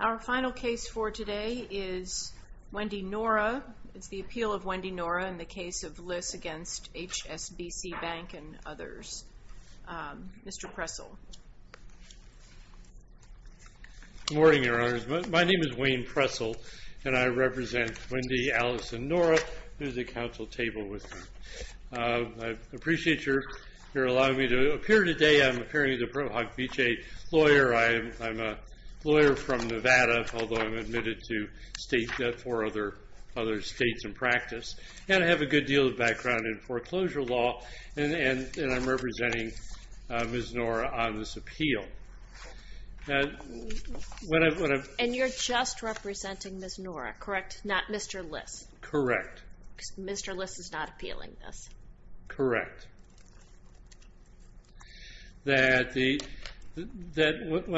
Our final case for today is Wendy Nora. It's the appeal of Wendy Nora in the case of Liss against HSBC Bank and others. Mr. Pressel. Good morning, Your Honors. My name is Wayne Pressel, and I represent Wendy, Alice, and Nora. There's a council table with me. I appreciate your allowing me to appear today. I'm appearing as a Pro Hoc Vitae lawyer. I'm a lawyer from Nevada, although I'm admitted to state, or other states in practice, and I have a good deal of background in foreclosure law, and I'm representing Ms. Nora on this appeal. And you're just representing Ms. Nora, correct? Not Mr. Liss? Correct. Mr. Liss is not appealing this. Correct. When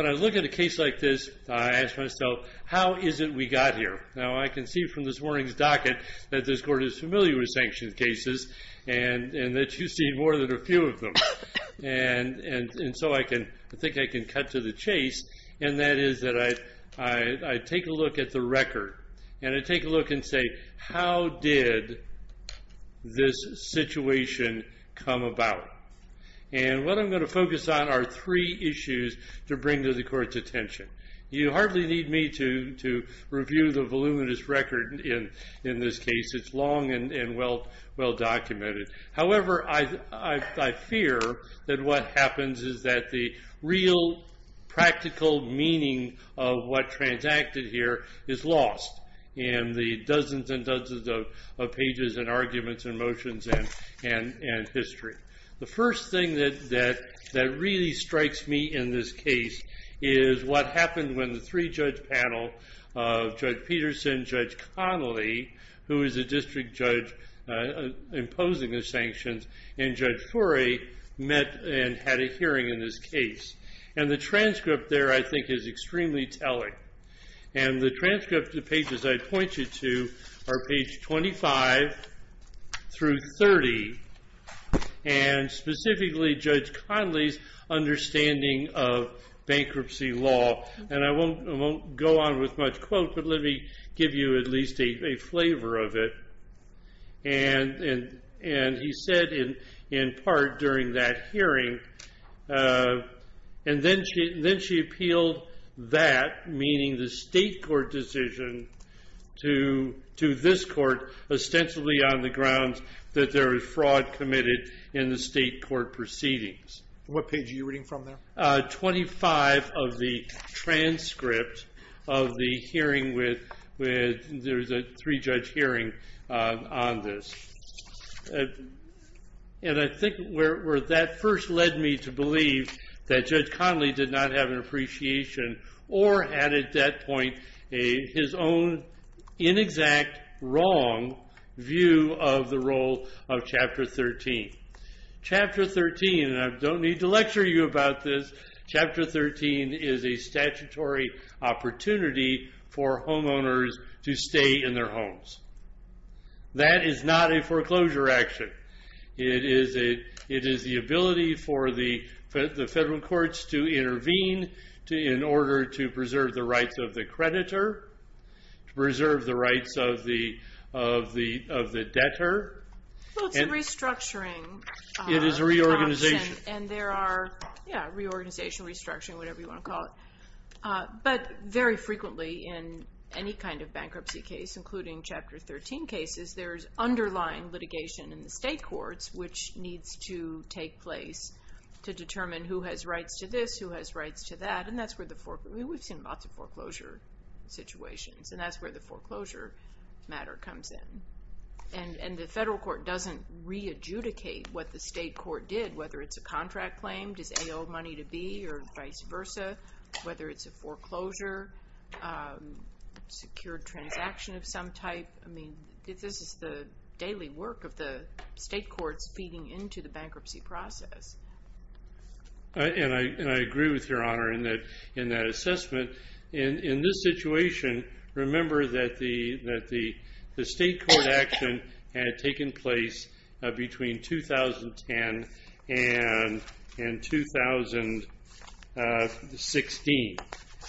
I look at a case like this, I ask myself, how is it we got here? Now I can see from this morning's docket that this Court is familiar with sanctioned cases, and that you've seen more than a few of them. And so I think I can cut to the chase, and that is that I take a look at the record, and I take a look and say, how did this situation come about? And what I'm going to focus on are three issues to bring to the Court's attention. You hardly need me to review the voluminous record in this case. It's long and well documented. However, I fear that what happens is that the real practical meaning of what transacted here is lost in the dozens and dozens of pages and arguments and motions and history. The first thing that really strikes me in this case is what happened when the three-judge panel of Judge Peterson, Judge Connolly, who is a district judge imposing the sanctions, and Judge Forey met and had a hearing in this case. And the transcript there, I think, is extremely telling. And the transcript of the pages I pointed to are page 25 through 30, and specifically Judge Connolly's understanding of bankruptcy law. And I won't go on with much quote, but let me give you at least a flavor of it. And he said, in part, during that hearing, and then she appealed that, meaning the state court decision, to this court ostensibly on the grounds that there was fraud committed in the state court proceedings. What page are you reading from there? Page 25 of the transcript of the hearing where there was a three-judge hearing on this. And I think where that first led me to believe that Judge Connolly did not have an appreciation, or had at that point his own inexact, wrong view of the role of Chapter 13. Chapter 13, and I don't need to lecture you about this, Chapter 13 is a statutory opportunity for homeowners to stay in their homes. That is not a foreclosure action. It is the ability for the federal courts to intervene in order to preserve the rights of the creditor, to preserve the rights of the debtor. Well, it's a restructuring. It is a reorganization. And there are, yeah, reorganization, restructuring, whatever you want to call it. But very frequently in any kind of bankruptcy case, including Chapter 13 cases, there's underlying litigation in the state courts which needs to take place to determine who has rights to this, who has rights to that, and that's where the foreclosure, we've seen lots of foreclosure situations, and that's where the foreclosure matter comes in. And the federal court doesn't re-adjudicate what the state court did, whether it's a contract claim, does A owe money to B, or vice versa, whether it's a foreclosure, secured transaction of some type. I mean, this is the daily work of the state courts feeding into the bankruptcy process. And I agree with Your Honor in that assessment. In this situation, remember that the state court action had taken place between 2010 and 2016.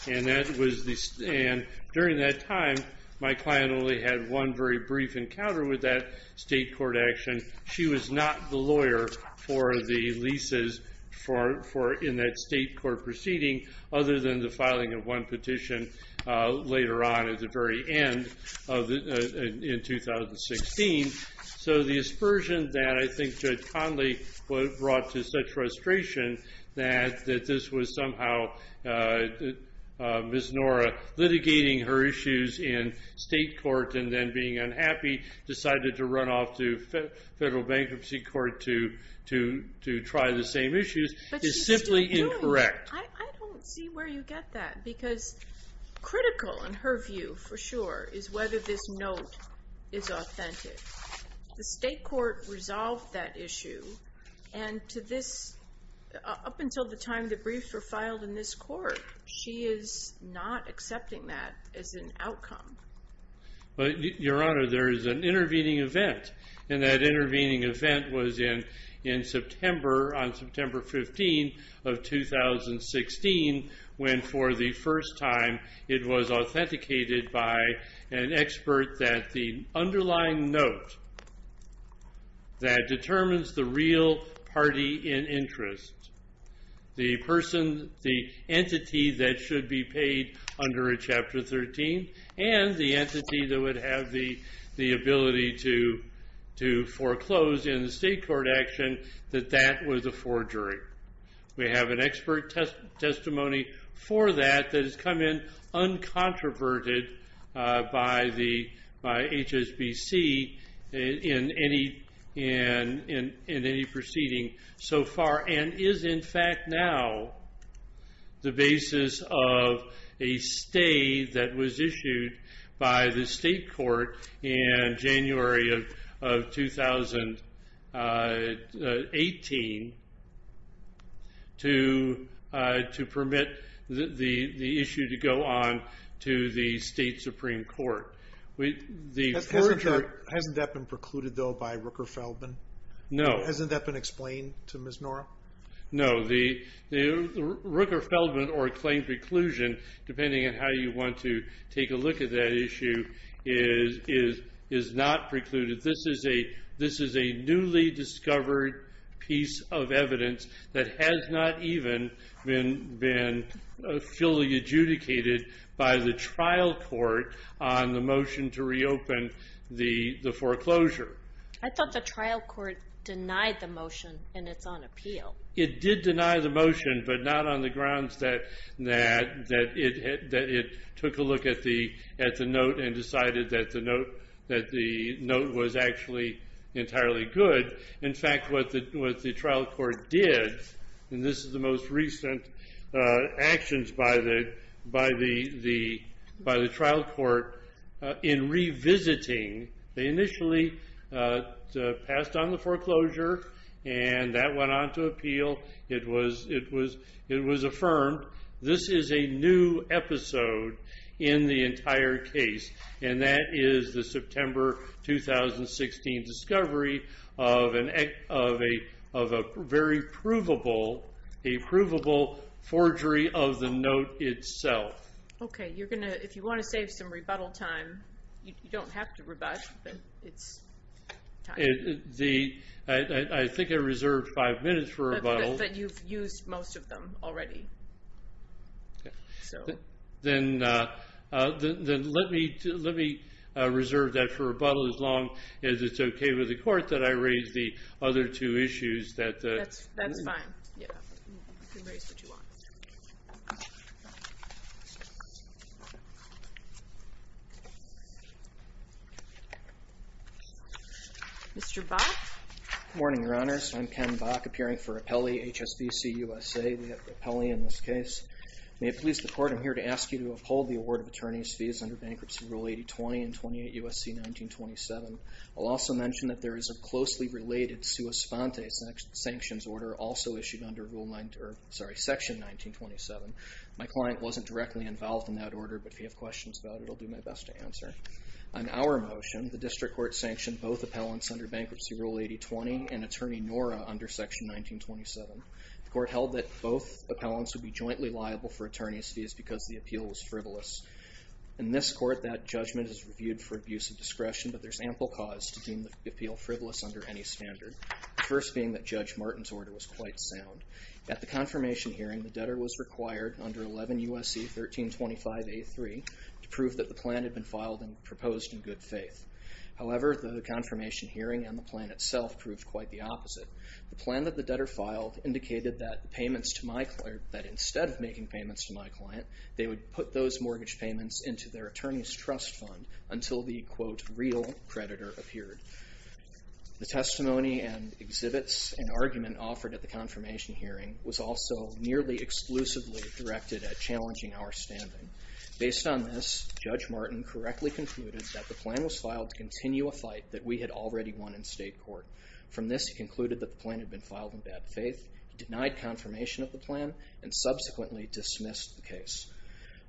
And during that time, my client only had one very brief encounter with that state court action. She was not the lawyer for the leases in that state court proceeding, other than the filing of one petition later on at the very end in 2016. So the aspersion that I think Judge Conley brought to such frustration, that this was somehow Ms. Nora litigating her issues in state court and then being unhappy, decided to run off to federal bankruptcy court to try the same issues, is simply incorrect. But she's still doing it. I don't see where you get that. Because critical in her view, for sure, is whether this note is authentic. The state court resolved that issue, and up until the time the briefs were filed in this court, she is not accepting that as an outcome. But Your Honor, there is an intervening event. And that intervening event was in September, on September 15 of 2016, when for the first time it was authenticated by an expert that the underlying note that determines the real party in interest, the entity that should be paid under a Chapter 13, and the entity that would have the ability to foreclose in the state court action, that that was a forgery. We have an expert testimony for that that has come in uncontroverted by HSBC in any proceeding so far, and is in fact now the basis of a stay that was issued by the state court in January of 2018 to permit the issue to go on to the state Supreme Court. Hasn't that been precluded, though, by Rooker-Feldman? No. Hasn't that been explained to Ms. Nora? No. The Rooker-Feldman or claim preclusion, depending on how you want to take a look at that issue, is not precluded. This is a newly discovered piece of evidence that has not even been fully adjudicated by the trial court on the motion to reopen the foreclosure. I thought the trial court denied the motion, and it's on appeal. It did deny the motion, but not on the grounds that it took a look at the note and decided that the note was actually entirely good. In fact, what the trial court did, and this is the most recent actions by the trial court, in revisiting, they initially passed on the foreclosure, and that went on to appeal. It was affirmed. This is a new episode in the entire case, and that is the September 2016 discovery of a very provable forgery of the note itself. Okay. If you want to save some rebuttal time, you don't have to rebut, but it's time. I think I reserved five minutes for rebuttal. But you've used most of them already. Then let me reserve that for rebuttal as long as it's okay with the court that I raise the other two issues. That's fine. Yeah. You can raise the two others. Mr. Bock? Good morning, Your Honors. I'm Ken Bock, appearing for Appellee HSBC USA. We have the appellee in this case. May it please the Court, I'm here to ask you to uphold the award of attorney's fees under Bankruptcy Rule 8020 and 28 U.S.C. 1927. I'll also mention that there is a closely related sua sponte sanctions order also issued under Section 1927. My client wasn't directly involved in that order, but if you have questions about it, I'll do my best to answer. On our motion, the district court sanctioned both appellants under Bankruptcy Rule 8020 and Attorney Nora under Section 1927. The court held that both appellants would be jointly liable for attorney's fees because the appeal was frivolous. In this court, that judgment is reviewed for abuse of discretion, but there's ample cause to deem the appeal frivolous under any standard, the first being that Judge Martin's order was quite sound. At the confirmation hearing, the debtor was required under 11 U.S.C. 1325A3 to prove that the plan had been filed and proposed in good faith. However, the confirmation hearing and the plan itself proved quite the opposite. The plan that the debtor filed indicated that payments to my client, that instead of making payments to my client, they would put those mortgage payments into their attorney's trust fund until the, quote, real creditor appeared. The testimony and exhibits and argument offered at the confirmation hearing was also nearly exclusively directed at challenging our standing. Based on this, Judge Martin correctly concluded that the plan was filed to continue a fight that we had already won in state court. From this, he concluded that the plan had been filed in bad faith, denied confirmation of the plan, and subsequently dismissed the case.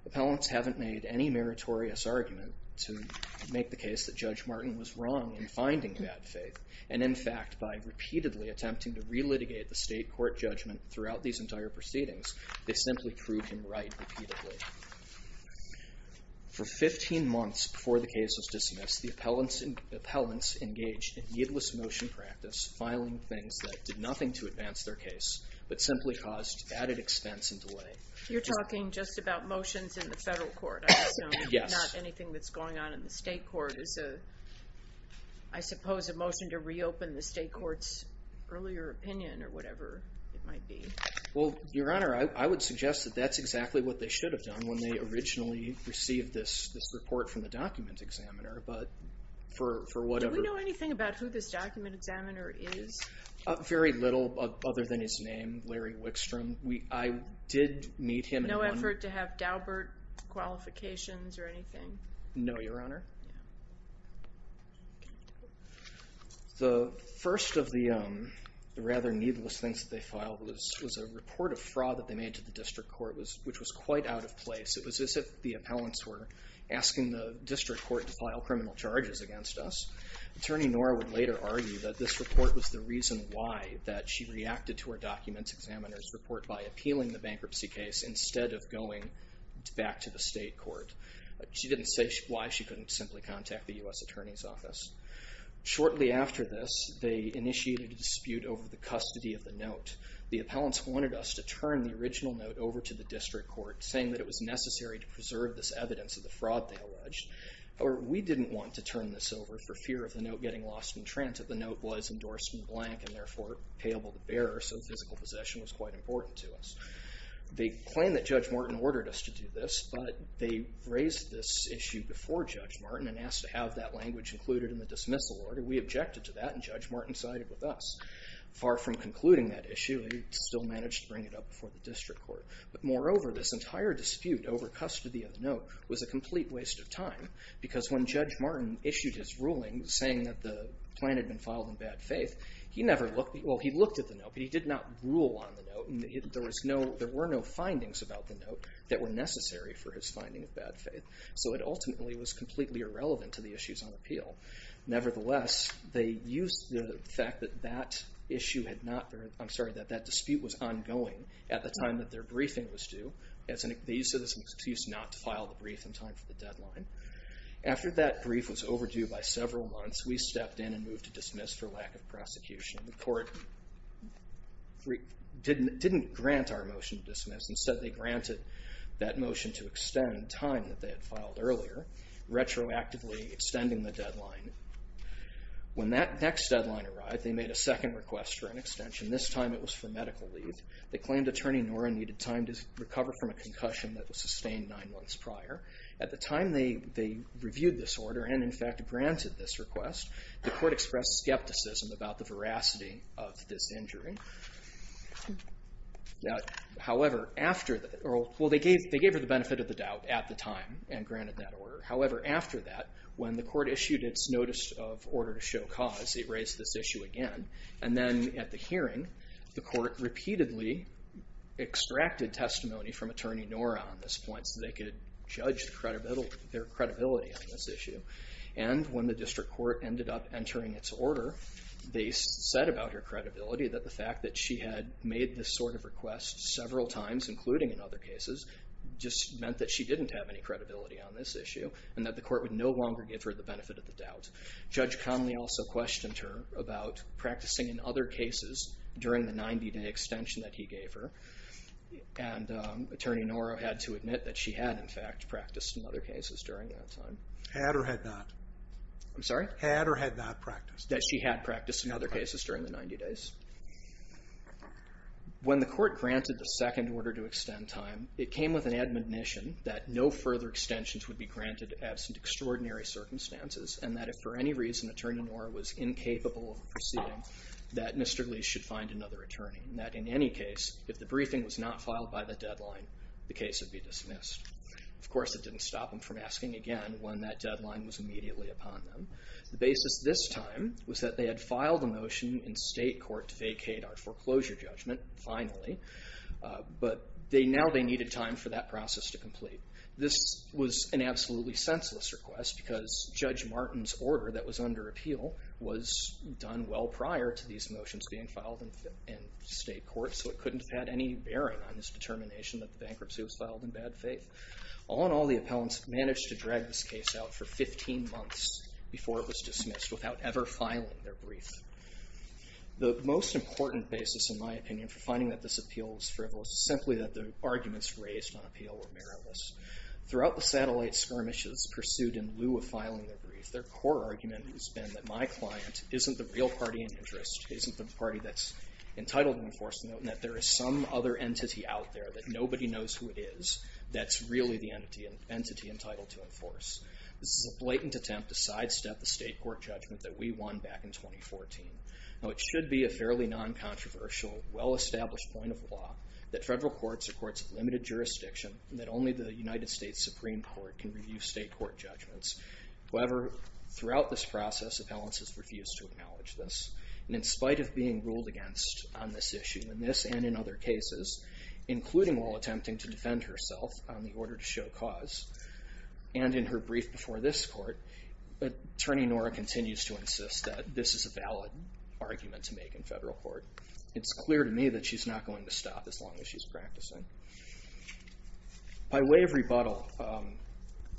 Appellants haven't made any meritorious argument to make the case that Judge Martin was wrong in finding bad faith, and in fact, by repeatedly attempting to relitigate the state court judgment throughout these entire proceedings, they simply proved him right repeatedly. For 15 months before the case was dismissed, the appellants engaged in needless motion practice, filing things that did nothing to advance their case, but simply caused added expense and delay. You're talking just about motions in the federal court, I assume. Yes. Not anything that's going on in the state court. Is a, I suppose, a motion to reopen the state court's earlier opinion or whatever it might be? Well, Your Honor, I would suggest that that's exactly what they should have done when they originally received this report from the document examiner, but for whatever— Do we know anything about who this document examiner is? Very little other than his name, Larry Wickstrom. I did meet him in one— No effort to have Daubert qualifications or anything? No, Your Honor. The first of the rather needless things that they filed was a report of fraud that they made to the district court, which was quite out of place. It was as if the appellants were asking the district court to file criminal charges against us. Attorney Nora would later argue that this report was the reason why she reacted to her document examiner's report by appealing the bankruptcy case instead of going back to the state court. She didn't say why she couldn't simply contact the U.S. Attorney's Office. Shortly after this, they initiated a dispute over the custody of the note. The appellants wanted us to turn the original note over to the district court, saying that it was necessary to preserve this evidence of the fraud they alleged. However, we didn't want to turn this over for fear of the note getting lost in trance and that the note was endorsed in blank and therefore payable to bearers, so physical possession was quite important to us. They claimed that Judge Martin ordered us to do this, but they raised this issue before Judge Martin and asked to have that language included in the dismissal order. We objected to that, and Judge Martin sided with us. Far from concluding that issue, he still managed to bring it up before the district court. But moreover, this entire dispute over custody of the note was a complete waste of time because when Judge Martin issued his ruling saying that the plan had been filed in bad faith, he looked at the note, but he did not rule on the note. There were no findings about the note that were necessary for his finding of bad faith, so it ultimately was completely irrelevant to the issues on appeal. Nevertheless, they used the fact that that dispute was ongoing at the time that their briefing was due. They used this excuse not to file the brief in time for the deadline. After that brief was overdue by several months, we stepped in and moved to dismiss for lack of prosecution. The court didn't grant our motion to dismiss. Instead, they granted that motion to extend time that they had filed earlier, retroactively extending the deadline. When that next deadline arrived, they made a second request for an extension. This time it was for medical leave. They claimed Attorney Norrin needed time to recover from a concussion that was sustained nine months prior. At the time they reviewed this order and, in fact, granted this request, the court expressed skepticism about the veracity of this injury. However, after that, well, they gave her the benefit of the doubt at the time and granted that order. However, after that, when the court issued its notice of order to show cause, it raised this issue again. And then at the hearing, the court repeatedly extracted testimony from Attorney Norrin on this point so they could judge their credibility on this issue. And when the district court ended up entering its order, they said about her credibility that the fact that she had made this sort of request several times, including in other cases, just meant that she didn't have any credibility on this issue and that the court would no longer give her the benefit of the doubt. Judge Conley also questioned her about practicing in other cases during the 90-day extension that he gave her. And Attorney Norrin had to admit that she had, in fact, practiced in other cases during that time. Had or had not? I'm sorry? Had or had not practiced? That she had practiced in other cases during the 90 days. When the court granted the second order to extend time, it came with an admonition that no further extensions would be granted absent extraordinary circumstances and that if for any reason Attorney Norrin was incapable of proceeding, that Mr. Lee should find another attorney. That in any case, if the briefing was not filed by the deadline, the case would be dismissed. Of course, it didn't stop them from asking again when that deadline was immediately upon them. The basis this time was that they had filed a motion in state court to vacate our foreclosure judgment, finally, but now they needed time for that process to complete. This was an absolutely senseless request because Judge Martin's order that was under appeal was done well prior to these motions being filed in state court, so it couldn't have had any bearing on this determination that the bankruptcy was filed in bad faith. All in all, the appellants managed to drag this case out for 15 months before it was dismissed without ever filing their brief. The most important basis, in my opinion, for finding that this appeal was frivolous is simply that the arguments raised on appeal were meritless. Throughout the satellite skirmishes pursued in lieu of filing their brief, their core argument has been that my client isn't the real party in interest, isn't the party that's entitled to enforce the note, and that there is some other entity out there that nobody knows who it is that's really the entity entitled to enforce. This is a blatant attempt to sidestep the state court judgment that we won back in 2014. Now, it should be a fairly non-controversial, well-established point of law that federal courts are courts of limited jurisdiction and that only the United States Supreme Court can review state court judgments. However, throughout this process, appellants have refused to acknowledge this. And in spite of being ruled against on this issue, in this and in other cases, including while attempting to defend herself on the order to show cause, and in her brief before this court, Attorney Nora continues to insist that this is a valid argument to make in federal court. It's clear to me that she's not going to stop as long as she's practicing. By way of rebuttal,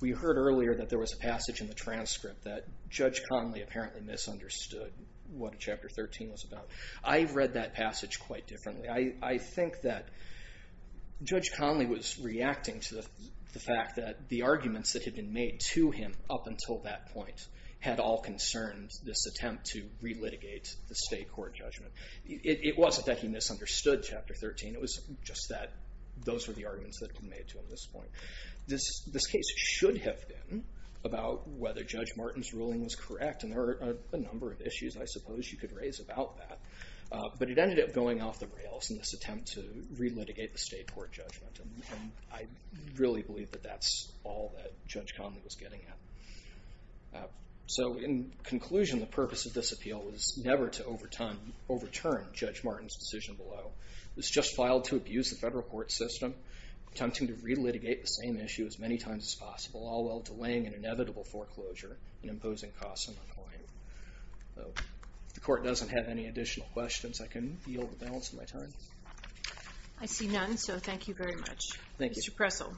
we heard earlier that there was a passage in the transcript that Judge Conley apparently misunderstood what Chapter 13 was about. I've read that passage quite differently. I think that Judge Conley was reacting to the fact that the arguments that had been made to him up until that point had all concerned this attempt to relitigate the state court judgment. It wasn't that he misunderstood Chapter 13. It was just that those were the arguments that had been made to him at this point. This case should have been about whether Judge Martin's ruling was correct. And there are a number of issues, I suppose, you could raise about that. But it ended up going off the rails in this attempt to relitigate the state court judgment. And I really believe that that's all that Judge Conley was getting at. So in conclusion, the purpose of this appeal was never to overturn Judge Martin's decision below. It was just filed to abuse the federal court system, attempting to relitigate the same issue as many times as possible, all while delaying an inevitable foreclosure and imposing costs on the client. If the Court doesn't have any additional questions, I can yield the balance of my time. I see none, so thank you very much. Thank you. Mr. Pressel.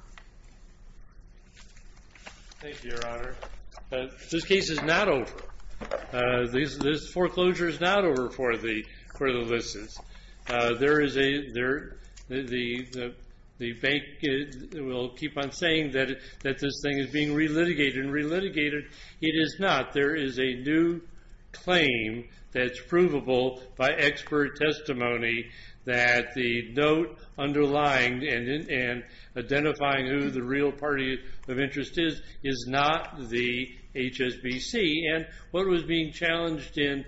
Thank you, Your Honor. This case is not over. This foreclosure is not over for the listeners. The bank will keep on saying that this thing is being relitigated and relitigated. It is not. There is a new claim that's provable by expert testimony that the note underlying and identifying who the real party of interest is is not the HSBC. And what was being challenged in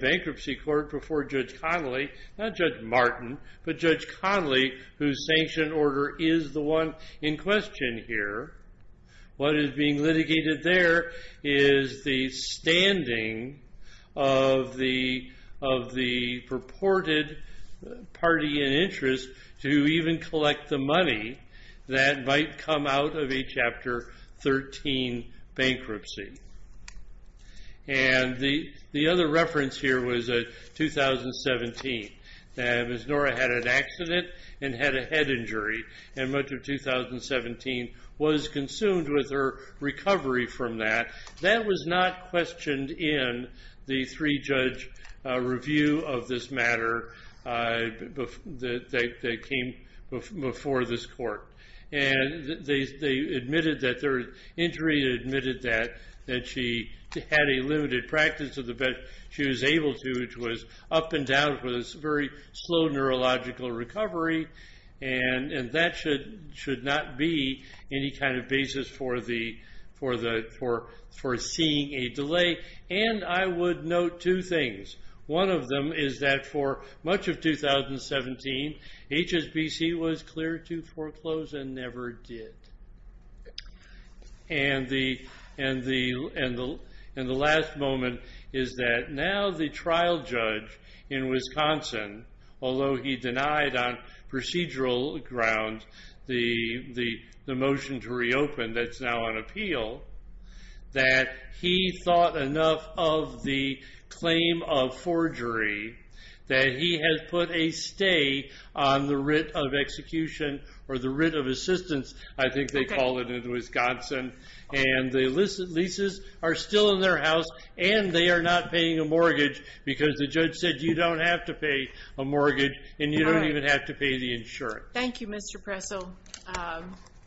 bankruptcy court before Judge Conley, not Judge Martin, but Judge Conley, whose sanction order is the one in question here, what is being litigated there is the standing of the purported party in interest to even collect the money that might come out of a Chapter 13 bankruptcy. And the other reference here was 2017. Ms. Nora had an accident and had a head injury, and much of 2017 was consumed with her recovery from that. That was not questioned in the three-judge review of this matter that came before this court. And they admitted that their injury, admitted that she had a limited practice of the best she was able to, which was up and down with a very slow neurological recovery, and that should not be any kind of basis for seeing a delay. And I would note two things. One of them is that for much of 2017, HSBC was clear to foreclose and never did. And the last moment is that now the trial judge in Wisconsin, although he denied on procedural grounds the motion to reopen that's now on appeal, that he thought enough of the claim of forgery that he has put a stay on the writ of execution or the writ of assistance, I think they call it in Wisconsin. And the leases are still in their house, and they are not paying a mortgage because the judge said you don't have to pay a mortgage and you don't even have to pay the insurance. Thank you, Mr. Pressel.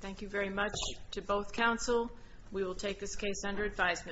Thank you very much to both counsel. We will take this case under advisement.